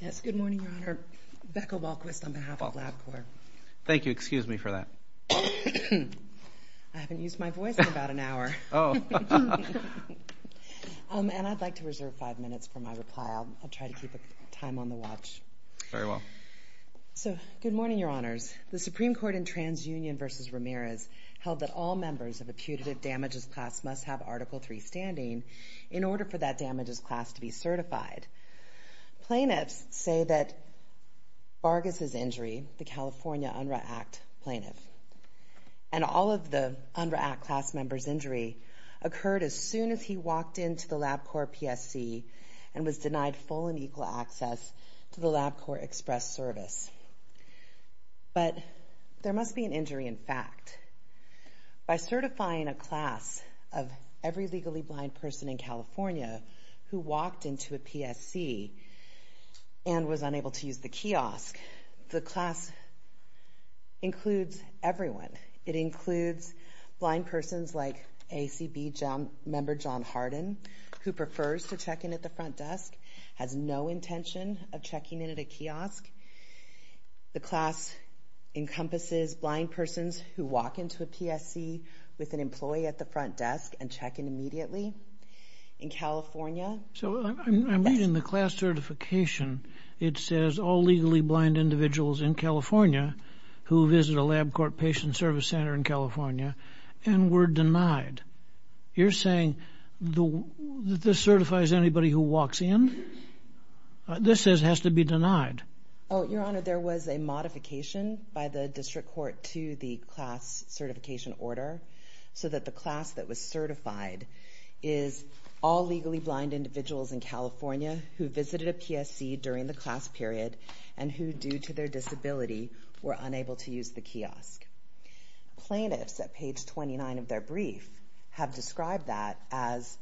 Yes, good morning, Your Honor. Becca Walquist on behalf of LabCorp. Thank you. Excuse me for that. I haven't used my voice in about an hour. Oh. And I'd like to reserve five minutes for my reply. I'll try to keep time on the watch. Very well. So, good morning, Your Honors. The Supreme Court in TransUnion v. Ramirez held that all members of a putative damages class must have Article III standing in order for that damages class to be certified. Plaintiffs say that Vargas' injury, the California UNRRA Act plaintiff, and all of the UNRRA Act class members' injury occurred as soon as he walked into the LabCorp PSC and was denied full and equal access to the LabCorp Express Service. But there must be an injury in fact. By certifying a class of every legally blind person in California who walked into a PSC and was unable to use the kiosk, the class includes everyone. It includes blind persons like ACB member John Harden, who prefers to check in at the front desk, has no intention of checking in at a kiosk. The class encompasses blind persons who walk into a PSC with an employee at the front desk and check in immediately. In California... So, I'm reading the class certification. It says all legally blind individuals in California who visit a LabCorp patient service center in California and were denied. You're saying that this certifies anybody who walks in? This says has to be denied. Oh, Your Honor, there was a modification by the district court to the class certification order so that the class that was certified is all legally blind individuals in California who visited a PSC during the class period and who, due to their disability, were unable to use the kiosk. Plaintiffs at page 29 of their brief have described that as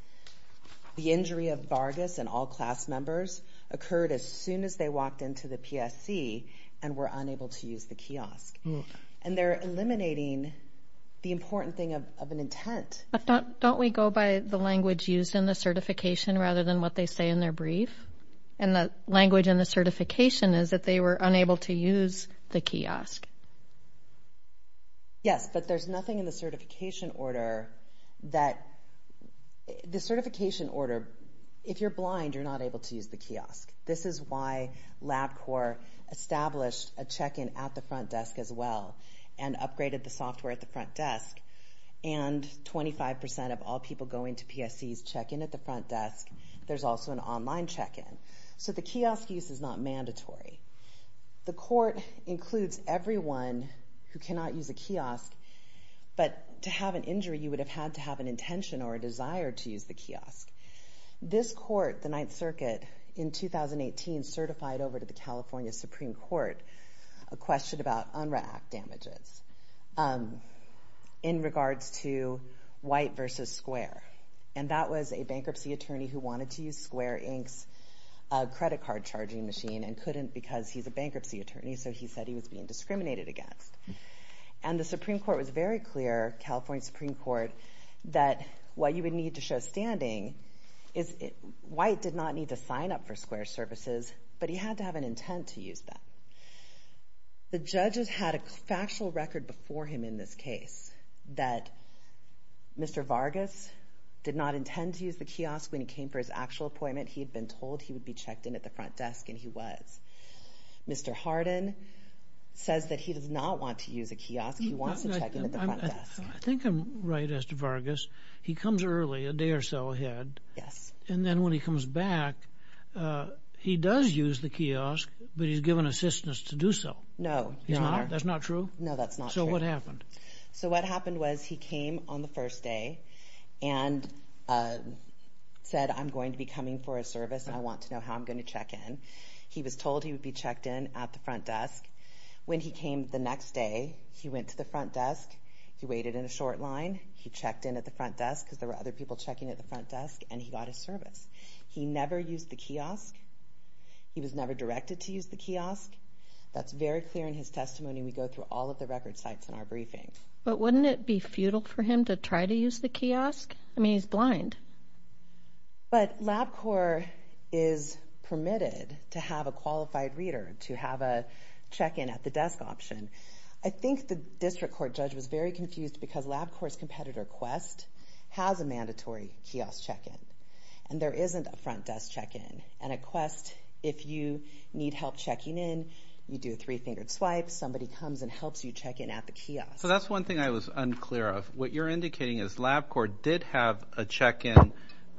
the injury of Vargas and all class members occurred as soon as they walked into the PSC and were unable to use the kiosk. And they're eliminating the important thing of an intent. But don't we go by the language used in the certification rather than what they say in their brief? And the language in the certification is that they were unable to use the kiosk. Yes, but there's nothing in the certification order that...the certification order... If you're blind, you're not able to use the kiosk. This is why LabCorp established a check-in at the front desk as well and upgraded the software at the front desk. And 25% of all people going to PSCs check in at the front desk. There's also an online check-in. So the kiosk use is not mandatory. The court includes everyone who cannot use a kiosk, but to have an injury, you would have had to have an intention or a desire to use the kiosk. This court, the Ninth Circuit, in 2018, certified over to the California Supreme Court a question about UNRRA Act damages in regards to white versus square. And that was a bankruptcy attorney who wanted to use Square Inc.'s credit card charging machine and couldn't because he's a bankruptcy attorney, so he said he was being discriminated against. And the Supreme Court was very clear, California Supreme Court, that what you would need to show standing is white did not need to sign up for Square services, but he had to have an intent to use them. The judges had a factual record before him in this case that Mr. Vargas did not intend to use the kiosk when he came for his actual appointment. He had been told he would be checked in at the front desk, and he was. Mr. Hardin says that he does not want to use a kiosk. He wants to check in at the front desk. I think I'm right as to Vargas. He comes early, a day or so ahead. Yes. And then when he comes back, he does use the kiosk, but he's given assistance to do so. No, Your Honor. That's not true? No, that's not true. So what happened? So what happened was he came on the first day and said, I'm going to be coming for a service, and I want to know how I'm going to check in. He was told he would be checked in at the front desk. When he came the next day, he went to the front desk. He waited in a short line. He checked in at the front desk, because there were other people checking at the front desk, and he got his service. He never used the kiosk. He was never directed to use the kiosk. That's very clear in his testimony. We go through all of the record sites in our briefing. But wouldn't it be futile for him to try to use the kiosk? I mean, he's blind. But LabCorp is permitted to have a qualified reader to have a check-in at the desk option. I think the district court judge was very confused because LabCorp's competitor, Quest, has a mandatory kiosk check-in, and there isn't a front desk check-in. And at Quest, if you need help checking in, you do a three-fingered swipe, somebody comes and helps you check in at the kiosk. So that's one thing I was unclear of. What you're indicating is LabCorp did have a check-in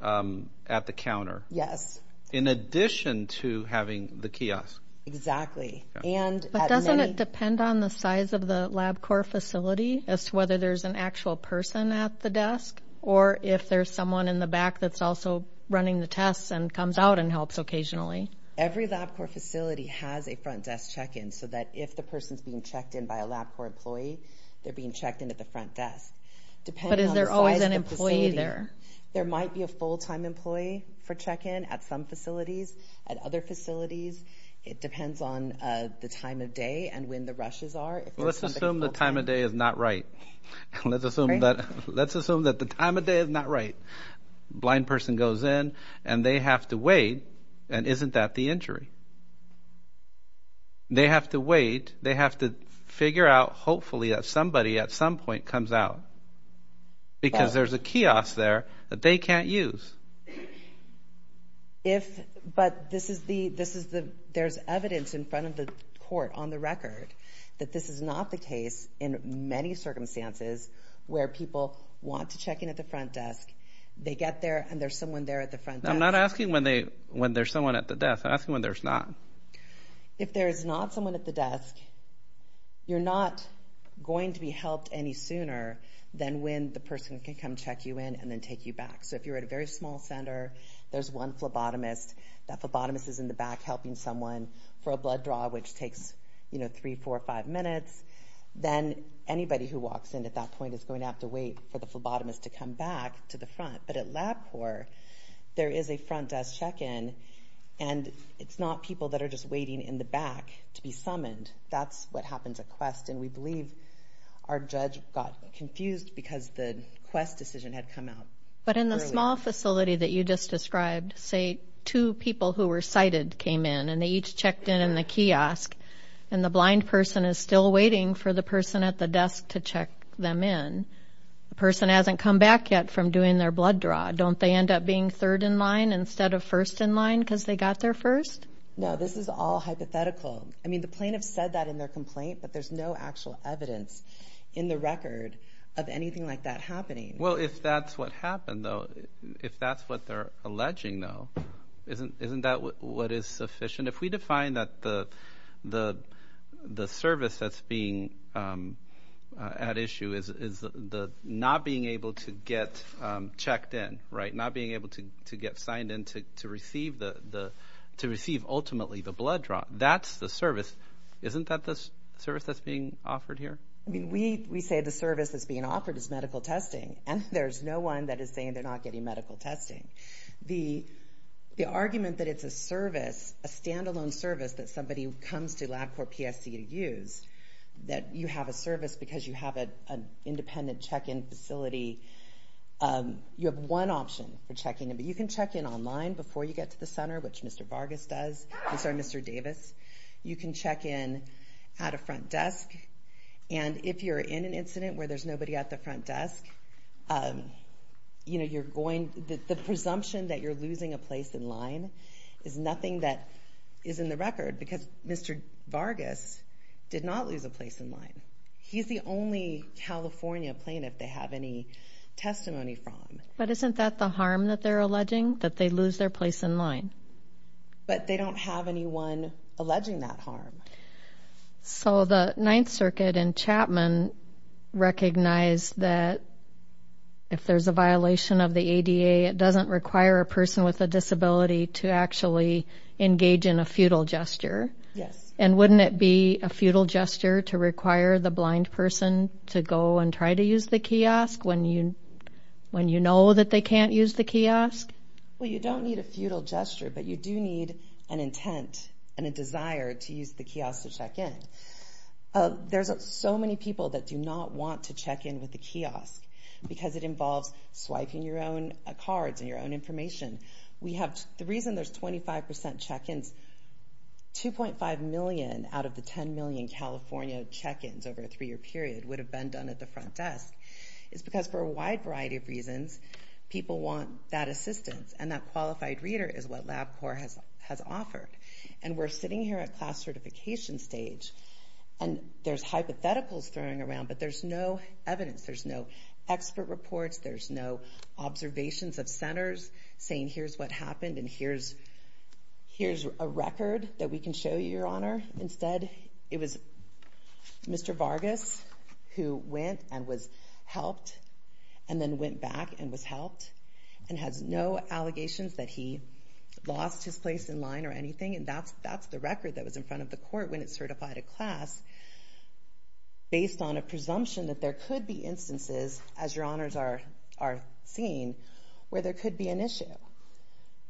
at the counter. Yes. In addition to having the kiosk. Exactly. But doesn't it depend on the size of the LabCorp facility as to whether there's an actual person at the desk or if there's someone in the back that's also running the tests and comes out and helps occasionally? Every LabCorp facility has a front desk check-in so that if the person's being checked in by a LabCorp employee, they're being checked in at the front desk. But is there always an employee there? There might be a full-time employee for check-in at some facilities. At other facilities, it depends on the time of day and when the rushes are. Let's assume the time of day is not right. Let's assume that the time of day is not right. A blind person goes in, and they have to wait, and isn't that the injury? They have to wait. They have to figure out, hopefully, that somebody at some point comes out because there's a kiosk there that they can't use. But there's evidence in front of the court, on the record, that this is not the case in many circumstances where people want to check in at the front desk. They get there, and there's someone there at the front desk. I'm not asking when there's someone at the desk. I'm asking when there's not. If there's not someone at the desk, you're not going to be helped any sooner than when the person can come check you in and then take you back. So if you're at a very small center, there's one phlebotomist. That phlebotomist is in the back helping someone for a blood draw, which takes three, four, five minutes. Then anybody who walks in at that point is going to have to wait for the phlebotomist to come back to the front. But at LabCorp, there is a front desk check-in, and it's not people that are just waiting in the back to be summoned. That's what happens at Quest. And we believe our judge got confused because the Quest decision had come out earlier. But in the small facility that you just described, say two people who were sighted came in, and they each checked in in the kiosk, and the blind person is still waiting for the person at the desk to check them in. The person hasn't come back yet from doing their blood draw. Don't they end up being third in line instead of first in line because they got there first? No, this is all hypothetical. I mean, the plaintiffs said that in their complaint, but there's no actual evidence in the record of anything like that happening. Well, if that's what happened, though, if that's what they're alleging, though, isn't that what is sufficient? If we define that the service that's being at issue is not being able to get checked in, right, not being able to get signed in to receive ultimately the blood draw, that's the service. Isn't that the service that's being offered here? We say the service that's being offered is medical testing, and there's no one that is saying they're not getting medical testing. The argument that it's a service, a standalone service that somebody who comes to LabCorp PSC to use, that you have a service because you have an independent check-in facility, you have one option for checking in, but you can check in online before you get to the center, which Mr. Vargas does, I'm sorry, Mr. Davis. You can check in at a front desk, and if you're in an incident where there's nobody at the front desk, you know, you're going, the presumption that you're losing a place in line is nothing that is in the record, because Mr. Vargas did not lose a place in line. He's the only California plaintiff they have any testimony from. But isn't that the harm that they're alleging, that they lose their place in line? But they don't have anyone alleging that harm. So the Ninth Circuit and Chapman recognize that if there's a violation of the ADA, it doesn't require a person with a disability to actually engage in a futile gesture. Yes. And wouldn't it be a futile gesture to require the blind person to go and try to use the kiosk when you know that they can't use the kiosk? Well, you don't need a futile gesture, but you do need an intent and a desire to use the kiosk to check in. There's so many people that do not want to check in with the kiosk because it involves swiping your own cards and your own information. The reason there's 25% check-ins, 2.5 million out of the 10 million California check-ins over a three-year period would have been done at the front desk. It's because for a wide variety of reasons, people want that assistance, and that qualified reader is what LabCorp has offered. And we're sitting here at class certification stage, and there's hypotheticals throwing around, but there's no evidence, there's no expert reports, there's no observations of centers saying, here's what happened and here's a record that we can show you, Your Honor. Instead, it was Mr. Vargas who went and was helped and then went back and was helped and has no allegations that he lost his place in line or anything, and that's the record that was in front of the court when it certified at class, based on a presumption that there could be instances, as Your Honors are seeing, where there could be an issue.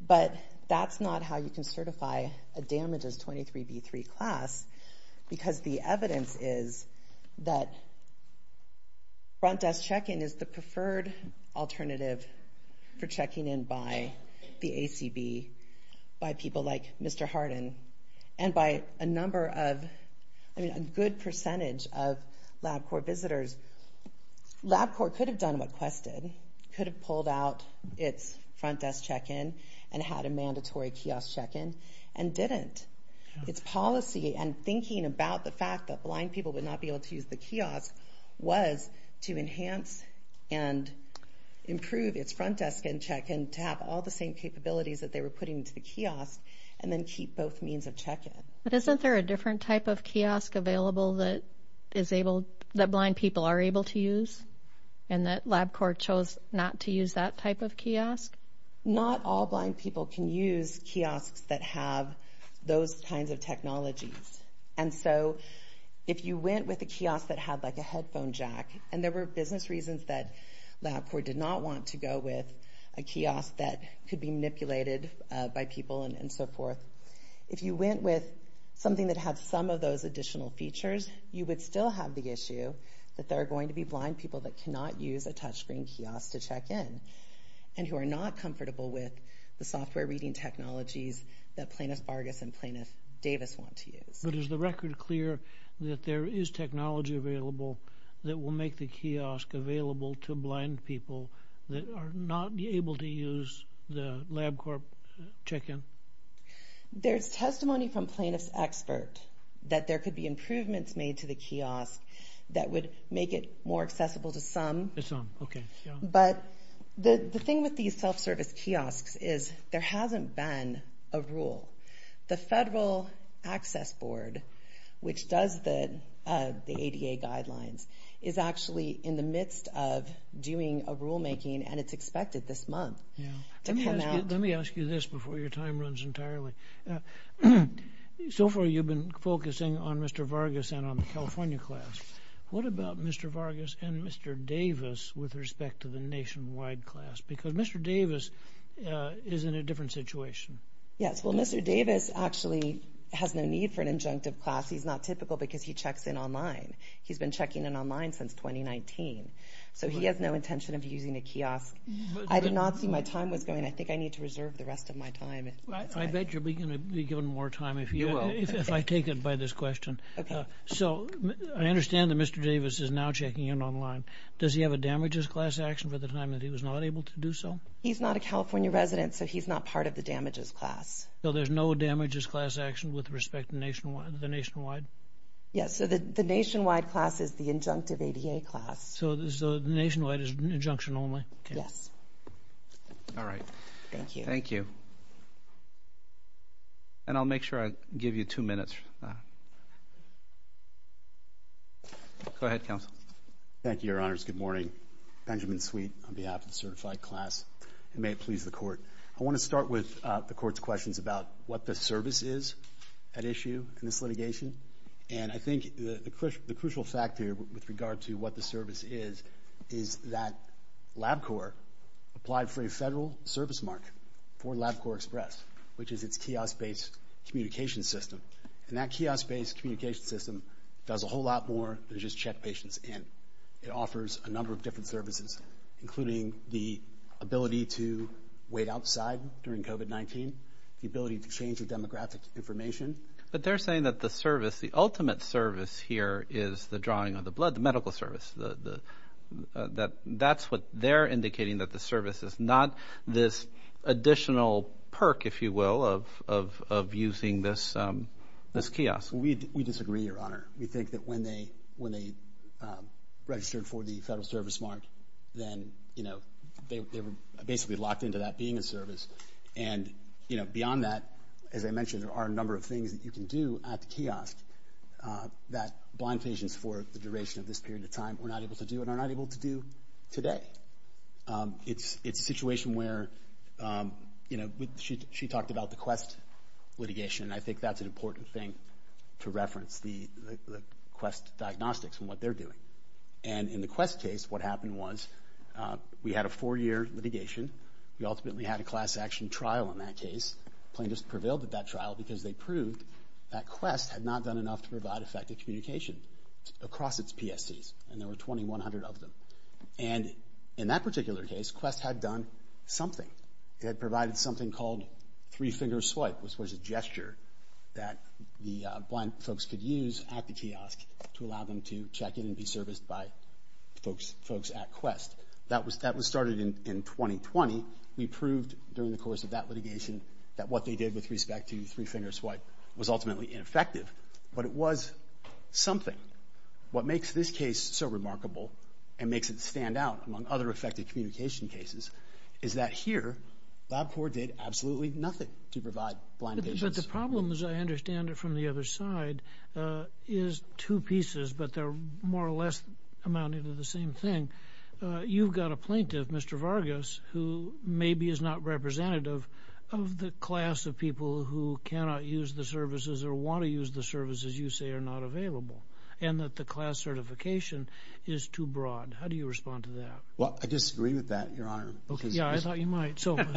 But that's not how you can certify a damages 23B3 class, because the evidence is that front desk check-in is the preferred alternative for checking in by the ACB, by people like Mr. Hardin, and by a number of, I mean, a good percentage of LabCorp visitors. LabCorp could have done what Quest did, could have pulled out its front desk check-in and had a mandatory kiosk check-in and didn't. Its policy and thinking about the fact that blind people would not be able to use the kiosk was to enhance and improve its front desk and check-in to have all the same capabilities that they were putting into the kiosk and then keep both means of check-in. But isn't there a different type of kiosk available that blind people are able to use and that LabCorp chose not to use that type of kiosk? Not all blind people can use kiosks that have those kinds of technologies. And so if you went with a kiosk that had, like, a headphone jack, and there were business reasons that LabCorp did not want to go with a kiosk that could be manipulated by people and so forth, if you went with something that had some of those additional features, you would still have the issue that there are going to be blind people that cannot use a touchscreen kiosk to check in and who are not comfortable with the software reading technologies that Plaintiff Bargus and Plaintiff Davis want to use. But is the record clear that there is technology available that will make the kiosk available to blind people that are not able to use the LabCorp check-in? There's testimony from Plaintiff's expert that there could be improvements made to the kiosk that would make it more accessible to some. But the thing with these self-service kiosks is there hasn't been a rule. The Federal Access Board, which does the ADA guidelines, is actually in the midst of doing a rulemaking, and it's expected this month to come out. Let me ask you this before your time runs entirely. So far you've been focusing on Mr. Vargas and on the California class. What about Mr. Vargas and Mr. Davis with respect to the nationwide class? Because Mr. Davis is in a different situation. Yes, well, Mr. Davis actually has no need for an injunctive class. He's not typical because he checks in online. He's been checking in online since 2019, so he has no intention of using a kiosk. I did not see my time was going. I think I need to reserve the rest of my time. I bet you'll be given more time if I take it by this question. So I understand that Mr. Davis is now checking in online. Does he have a damages class action for the time that he was not able to do so? He's not a California resident, so he's not part of the damages class. So there's no damages class action with respect to the nationwide? Yes, so the nationwide class is the injunctive ADA class. So the nationwide is injunction only. Yes. All right. Thank you. Thank you. And I'll make sure I give you two minutes. Go ahead, counsel. Thank you, Your Honors. Good morning. Benjamin Sweet on behalf of the certified class. May it please the court. I want to start with the court's questions about what the service is at issue in this litigation. And I think the crucial fact here with regard to what the service is, is that LabCorp applied for a federal service mark for LabCorp Express, which is its kiosk-based communication system. And that kiosk-based communication system does a whole lot more than just check patients in. It offers a number of different services, including the ability to wait outside during COVID-19, the ability to change the demographic information. But they're saying that the service, the ultimate service here, is the drawing of the blood, the medical service. That's what they're indicating, that the service is not this additional perk, if you will, of using this kiosk. We disagree, Your Honor. We think that when they registered for the federal service mark, then they were basically locked into that being a service. And, you know, beyond that, as I mentioned, there are a number of things that you can do at the kiosk that blind patients for the duration of this period of time were not able to do and are not able to do today. It's a situation where, you know, she talked about the Quest litigation, and I think that's an important thing to reference, the Quest diagnostics and what they're doing. And in the Quest case, what happened was we had a four-year litigation. We ultimately had a class action trial in that case. Plaintiffs prevailed at that trial because they proved that Quest had not done enough to provide effective communication across its PSCs, and there were 2,100 of them. And in that particular case, Quest had done something. It had provided something called three-finger swipe, which was a gesture that the blind folks could use at the kiosk to allow them to check in and be serviced by folks at Quest. That was started in 2020. We proved during the course of that litigation that what they did with respect to three-finger swipe was ultimately ineffective, but it was something. What makes this case so remarkable and makes it stand out among other effective communication cases is that here LabCorp did absolutely nothing to provide blind patients. But the problem, as I understand it from the other side, is two pieces, but they're more or less amounting to the same thing. You've got a plaintiff, Mr. Vargas, who maybe is not representative of the class of people who cannot use the services or want to use the services you say are not available and that the class certification is too broad. How do you respond to that? Well, I disagree with that, Your Honor. Yeah, I thought you might. So help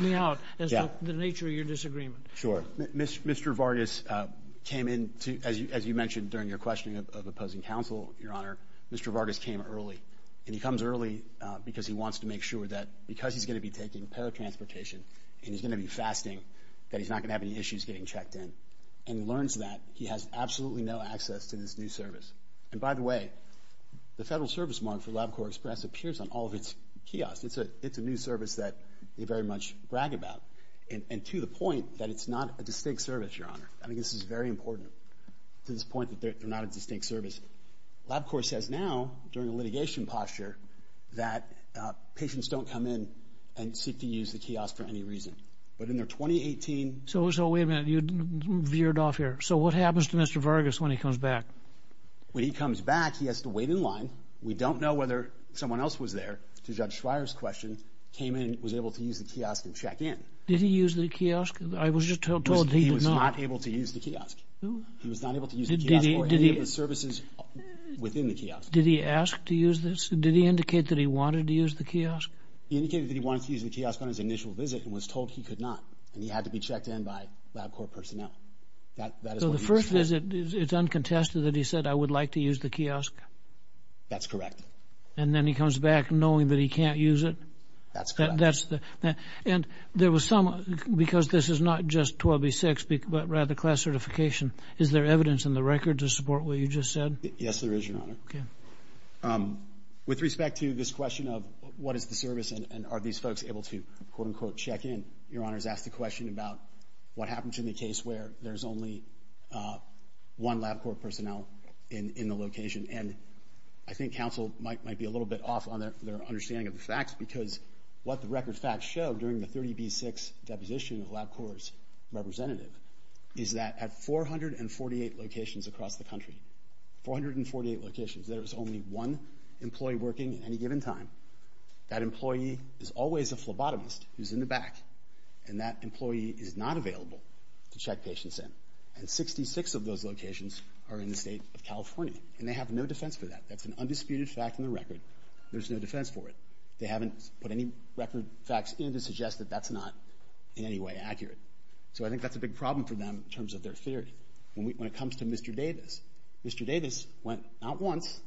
me out as to the nature of your disagreement. Sure. Mr. Vargas came in, as you mentioned during your questioning of opposing counsel, Your Honor, Mr. Vargas came early. And he comes early because he wants to make sure that because he's going to be taking paratransportation and he's going to be fasting, that he's not going to have any issues getting checked in. And he learns that he has absolutely no access to this new service. And by the way, the federal service mark for LabCorp Express appears on all of its kiosks. It's a new service that they very much brag about. And to the point that it's not a distinct service, Your Honor. I think this is very important to this point that they're not a distinct service. LabCorp says now during a litigation posture that patients don't come in and seek to use the kiosk for any reason. But in their 2018... So wait a minute. You veered off here. So what happens to Mr. Vargas when he comes back? When he comes back, he has to wait in line. We don't know whether someone else was there, to Judge Schreier's question, came in, was able to use the kiosk and check in. Did he use the kiosk? I was just told that he did not. He was not able to use the kiosk. He was not able to use the kiosk or any of the services within the kiosk. Did he ask to use this? Did he indicate that he wanted to use the kiosk? He indicated that he wanted to use the kiosk on his initial visit and was told he could not. And he had to be checked in by LabCorp personnel. So the first visit, it's uncontested that he said, I would like to use the kiosk? That's correct. And then he comes back knowing that he can't use it? That's correct. And there was some, because this is not just 12B-6, but rather class certification, is there evidence in the record to support what you just said? Yes, there is, Your Honor. Okay. With respect to this question of what is the service and are these folks able to, quote, unquote, check in, Your Honor has asked a question about what happens in the case where there's only one LabCorp personnel in the location. And I think counsel might be a little bit off on their understanding of the facts because what the record facts show during the 30B-6 deposition of LabCorp's representative is that at 448 locations across the country, 448 locations, there is only one employee working at any given time. That employee is always a phlebotomist who's in the back, and that employee is not available to check patients in. And 66 of those locations are in the state of California, and they have no defense for that. That's an undisputed fact in the record. There's no defense for it. They haven't put any record facts in to suggest that that's not in any way accurate. So I think that's a big problem for them in terms of their theory. When it comes to Mr. Davis, Mr. Davis went not once,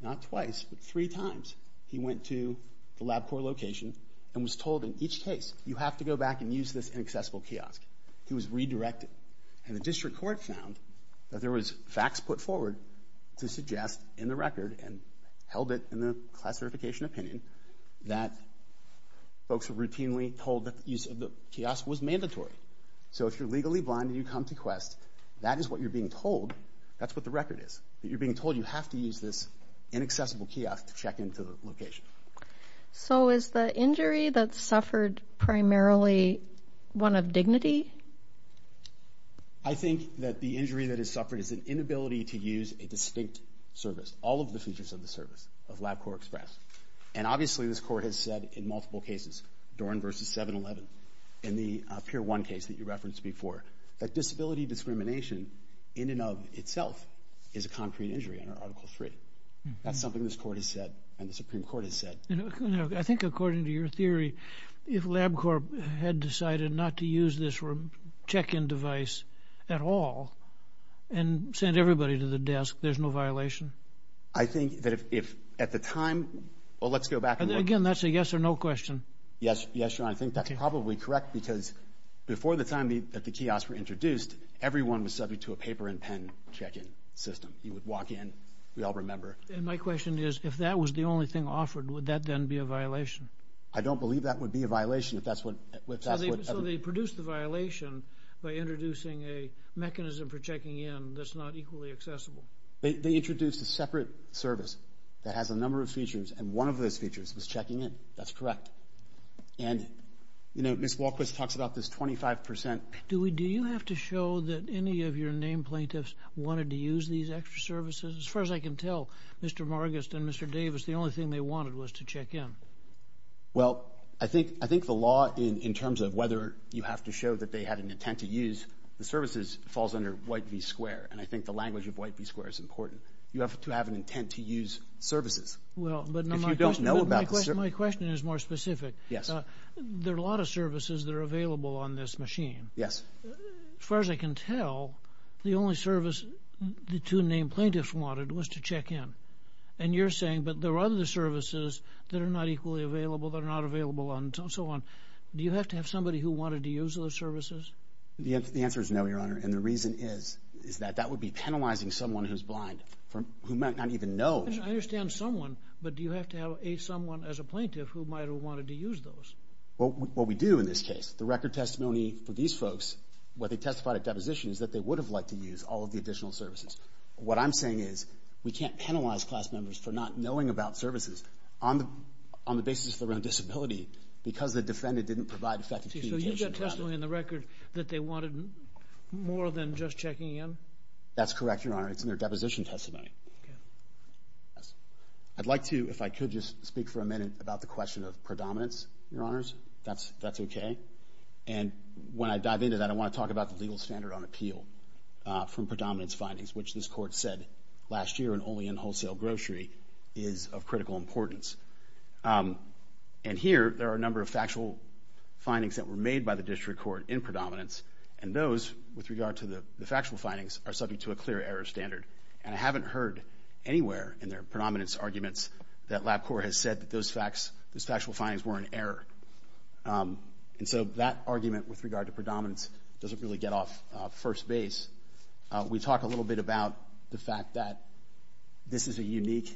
not twice, but three times. He went to the LabCorp location and was told in each case, you have to go back and use this inaccessible kiosk. He was redirected. And the district court found that there was facts put forward to suggest in the record and held it in the class certification opinion that folks were routinely told that the use of the kiosk was mandatory. So if you're legally blind and you come to Quest, that is what you're being told. That's what the record is. That you're being told you have to use this inaccessible kiosk to check into the location. So is the injury that's suffered primarily one of dignity? I think that the injury that is suffered is an inability to use a distinct service, all of the features of the service of LabCorp Express. And obviously this court has said in multiple cases, Doran v. 7-11 and the Pier 1 case that you referenced before, that disability discrimination in and of itself is a concrete injury under Article 3. That's something this court has said and the Supreme Court has said. I think according to your theory, if LabCorp had decided not to use this check-in device at all and sent everybody to the desk, there's no violation? I think that if at the time, well, let's go back and look. Again, that's a yes or no question. Yes, John, I think that's probably correct because before the time that the kiosks were introduced, everyone was subject to a paper and pen check-in system. You would walk in, we all remember. And my question is, if that was the only thing offered, would that then be a violation? I don't believe that would be a violation. So they produced the violation by introducing a mechanism for checking in that's not equally accessible? They introduced a separate service that has a number of features, and one of those features was checking in. That's correct. And, you know, Ms. Walquist talks about this 25%. Do you have to show that any of your named plaintiffs wanted to use these extra services? As far as I can tell, Mr. Margus and Mr. Davis, the only thing they wanted was to check in. Well, I think the law, in terms of whether you have to show that they had an intent to use the services, falls under White v. Square, and I think the language of White v. Square is important. You have to have an intent to use services. Well, but my question is more specific. Yes. There are a lot of services that are available on this machine. Yes. As far as I can tell, the only service the two named plaintiffs wanted was to check in. And you're saying, but there are other services that are not equally available, that are not available, and so on. Do you have to have somebody who wanted to use those services? The answer is no, Your Honor, and the reason is that that would be penalizing someone who's blind, who might not even know. I understand someone, but do you have to have someone as a plaintiff who might have wanted to use those? Well, what we do in this case, the record testimony for these folks, what they testified at deposition is that they would have liked to use all of the additional services. What I'm saying is we can't penalize class members for not knowing about services on the basis of their own disability because the defendant didn't provide effective communication. So you've got testimony in the record that they wanted more than just checking in? That's correct, Your Honor. It's in their deposition testimony. I'd like to, if I could, just speak for a minute about the question of predominance, Your Honors, if that's okay. And when I dive into that, I want to talk about the legal standard on appeal from predominance findings, which this Court said last year and only in wholesale grocery is of critical importance. And here, there are a number of factual findings that were made by the district court in predominance, and those, with regard to the factual findings, are subject to a clear error standard. And I haven't heard anywhere in their predominance arguments that LabCorp has said that those factual findings were an error. And so that argument with regard to predominance doesn't really get off first base. We talk a little bit about the fact that this is a unique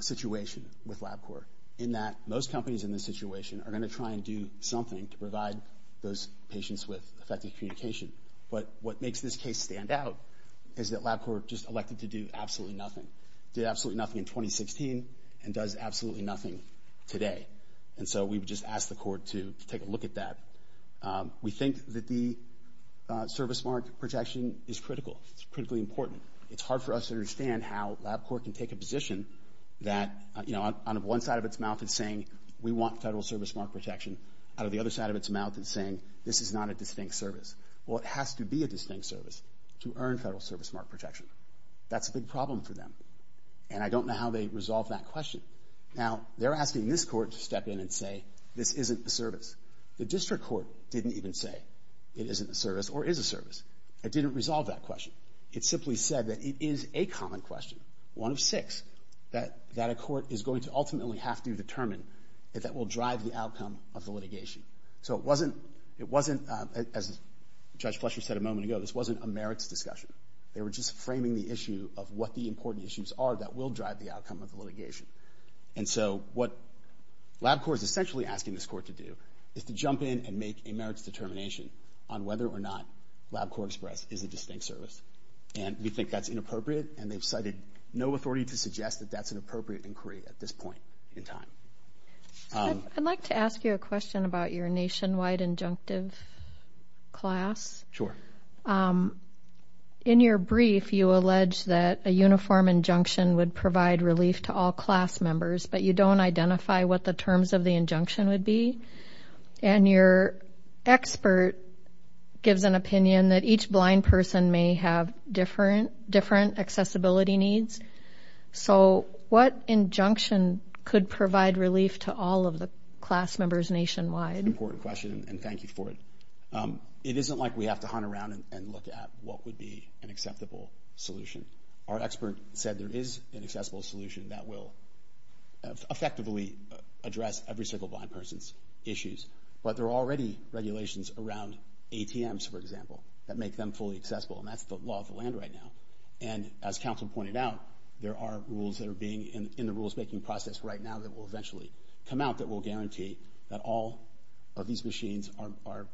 situation with LabCorp, in that most companies in this situation are going to try and do something to provide those patients with effective communication. But what makes this case stand out is that LabCorp just elected to do absolutely nothing, did absolutely nothing in 2016, and does absolutely nothing today. And so we've just asked the Court to take a look at that. We think that the service mark protection is critical. It's critically important. It's hard for us to understand how LabCorp can take a position that, you know, on one side of its mouth, it's saying we want federal service mark protection. Out of the other side of its mouth, it's saying this is not a distinct service. Well, it has to be a distinct service to earn federal service mark protection. That's a big problem for them, and I don't know how they resolve that question. Now, they're asking this Court to step in and say this isn't a service. The district court didn't even say it isn't a service or is a service. It didn't resolve that question. It simply said that it is a common question, one of six, that a court is going to ultimately have to determine that that will drive the outcome of the litigation. So it wasn't, as Judge Fletcher said a moment ago, this wasn't a merits discussion. They were just framing the issue of what the important issues are that will drive the outcome of the litigation. And so what LabCorp is essentially asking this Court to do is to jump in and make a merits determination on whether or not LabCorp Express is a distinct service. And we think that's inappropriate, and they've cited no authority to suggest that that's an appropriate inquiry at this point in time. I'd like to ask you a question about your nationwide injunctive class. Sure. In your brief, you allege that a uniform injunction would provide relief to all class members, but you don't identify what the terms of the injunction would be. And your expert gives an opinion that each blind person may have different accessibility needs. So what injunction could provide relief to all of the class members nationwide? That's an important question, and thank you for it. It isn't like we have to hunt around and look at what would be an acceptable solution. Our expert said there is an accessible solution that will effectively address every single blind person's issues. But there are already regulations around ATMs, for example, that make them fully accessible, and that's the law of the land right now. And as counsel pointed out, there are rules that are being in the rules-making process right now that will eventually come out that will guarantee that all of these machines are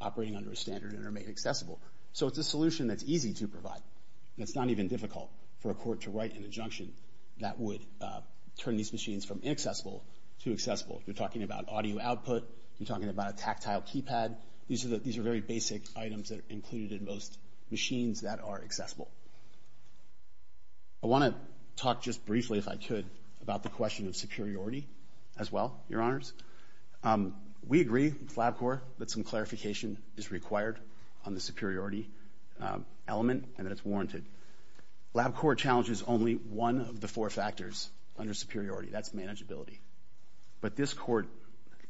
operating under a standard and are made accessible. So it's a solution that's easy to provide. It's not even difficult for a court to write an injunction that would turn these machines from inaccessible to accessible. You're talking about audio output. You're talking about a tactile keypad. These are very basic items that are included in most machines that are accessible. I want to talk just briefly, if I could, about the question of superiority as well, Your Honors. We agree with LabCorp that some clarification is required on the superiority element and that it's warranted. LabCorp challenges only one of the four factors under superiority. That's manageability. But this court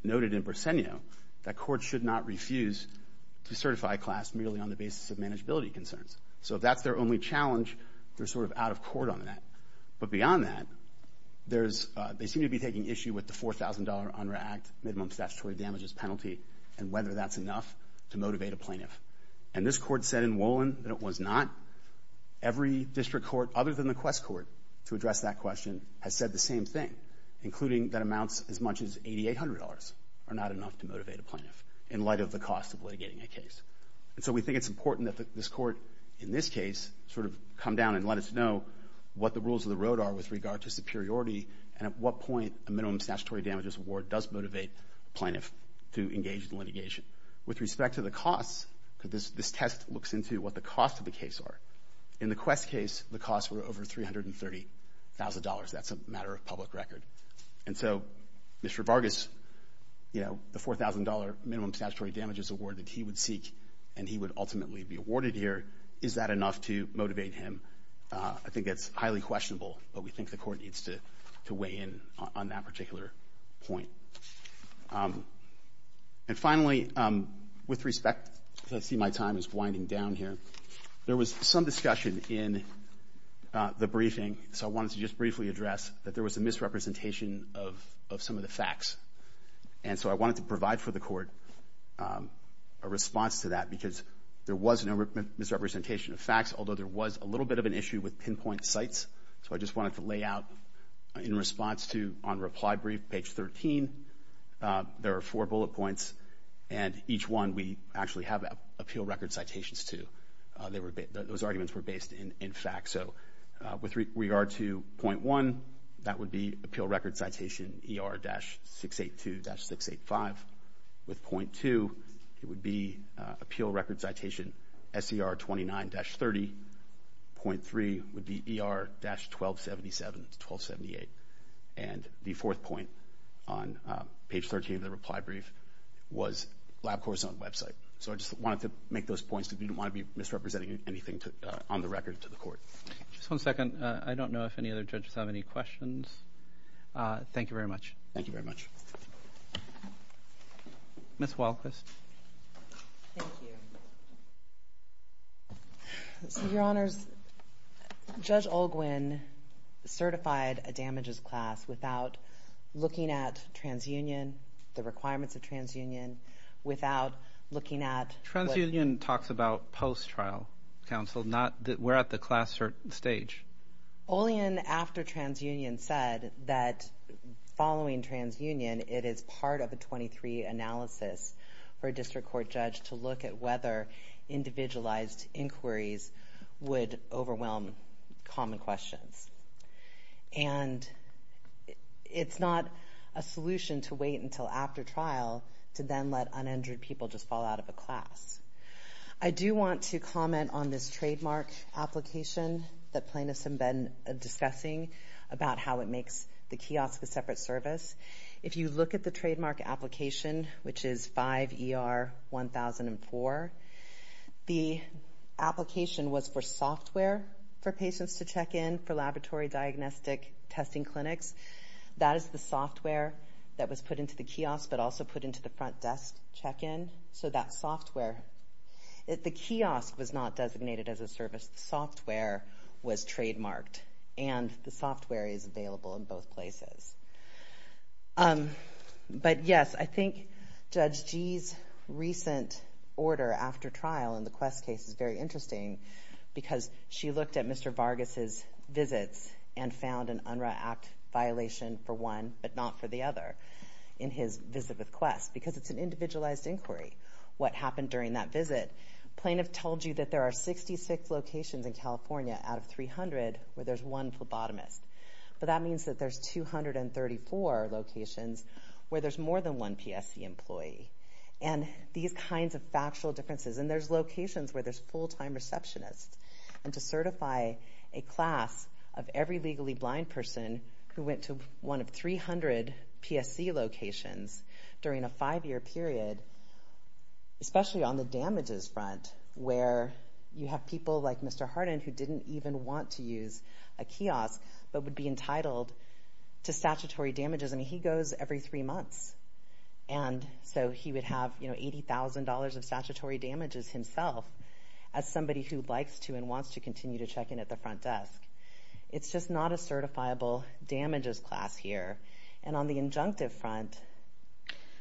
noted in Bresenio that courts should not refuse to certify a class merely on the basis of manageability concerns. So if that's their only challenge, they're sort of out of court on that. But beyond that, they seem to be taking issue with the $4,000 UNRRA Act minimum statutory damages penalty and whether that's enough to motivate a plaintiff. And this court said in Wolin that it was not. Every district court other than the Quest Court to address that question has said the same thing, including that amounts as much as $8,800 are not enough to motivate a plaintiff in light of the cost of litigating a case. And so we think it's important that this court, in this case, sort of come down and let us know what the rules of the road are with regard to superiority and at what point a minimum statutory damages award does motivate a plaintiff to engage in litigation. With respect to the costs, this test looks into what the costs of the case are. In the Quest case, the costs were over $330,000. That's a matter of public record. And so Mr. Vargas, you know, the $4,000 minimum statutory damages award that he would seek and he would ultimately be awarded here, is that enough to motivate him? I think that's highly questionable, but we think the court needs to weigh in on that particular point. And finally, with respect, because I see my time is winding down here, there was some discussion in the briefing. So I wanted to just briefly address that there was a misrepresentation of some of the facts. And so I wanted to provide for the court a response to that because there was no misrepresentation of facts, although there was a little bit of an issue with pinpoint sites. So I just wanted to lay out in response to on reply brief, page 13, there are four bullet points, and each one we actually have appeal record citations to. Those arguments were based in fact. So with regard to point one, that would be appeal record citation ER-682-685. With point two, it would be appeal record citation SER-29-30. Point three would be ER-1277-1278. And the fourth point on page 13 of the reply brief was LabCorp's own website. So I just wanted to make those points because we didn't want to be misrepresenting anything on the record to the court. Just one second. I don't know if any other judges have any questions. Thank you very much. Thank you very much. Ms. Walquist. Thank you. So, Your Honors, Judge Olguin certified a damages class without looking at transunion, the requirements of transunion, without looking at... Transunion talks about post-trial counsel. We're at the class stage. Olguin, after transunion, said that following transunion, it is part of a 23 analysis for a district court judge to look at whether individualized inquiries would overwhelm common questions. And it's not a solution to wait until after trial to then let uninjured people just fall out of a class. I do want to comment on this trademark application that plaintiffs have been discussing about how it makes the kiosk a separate service. If you look at the trademark application, which is 5ER-1004, the application was for software for patients to check in for laboratory diagnostic testing clinics. That is the software that was put into the kiosk but also put into the front desk check-in. So that software... The kiosk was not designated as a service. The software was trademarked, and the software is available in both places. But, yes, I think Judge Gee's recent order after trial in the Quest case is very interesting because she looked at Mr. Vargas' visits and found an UNRRA Act violation for one but not for the other in his visit with Quest because it's an individualized inquiry, what happened during that visit. Plaintiff told you that there are 66 locations in California out of 300 where there's one phlebotomist. But that means that there's 234 locations where there's more than one PSC employee. And these kinds of factual differences... And there's locations where there's full-time receptionists. And to certify a class of every legally blind person who went to one of 300 PSC locations during a five-year period, especially on the damages front where you have people like Mr. Hardin who didn't even want to use a kiosk but would be entitled to statutory damages. I mean, he goes every three months, and so he would have $80,000 of statutory damages himself as somebody who likes to and wants to continue to check in at the front desk. It's just not a certifiable damages class here. And on the injunctive front,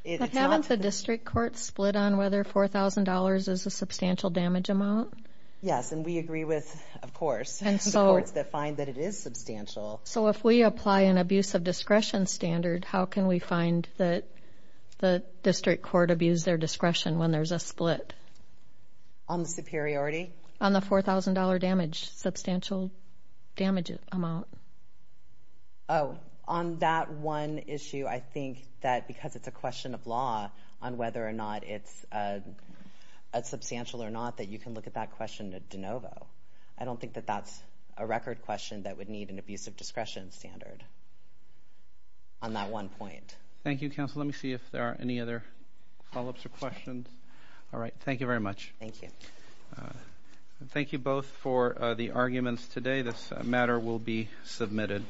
it's not... But haven't the district courts split on whether $4,000 is a substantial damage amount? Yes, and we agree with, of course, the courts that find that it is substantial. So if we apply an abuse of discretion standard, how can we find that the district court abused their discretion when there's a split? On the superiority? On the $4,000 damage, substantial damage amount. Oh, on that one issue, I think that because it's a question of law on whether or not it's substantial or not, that you can look at that question de novo. I don't think that that's a record question that would need an abuse of discretion standard on that one point. Thank you, counsel. Let me see if there are any other follow-ups or questions. All right, thank you very much. Thank you. This matter will be submitted.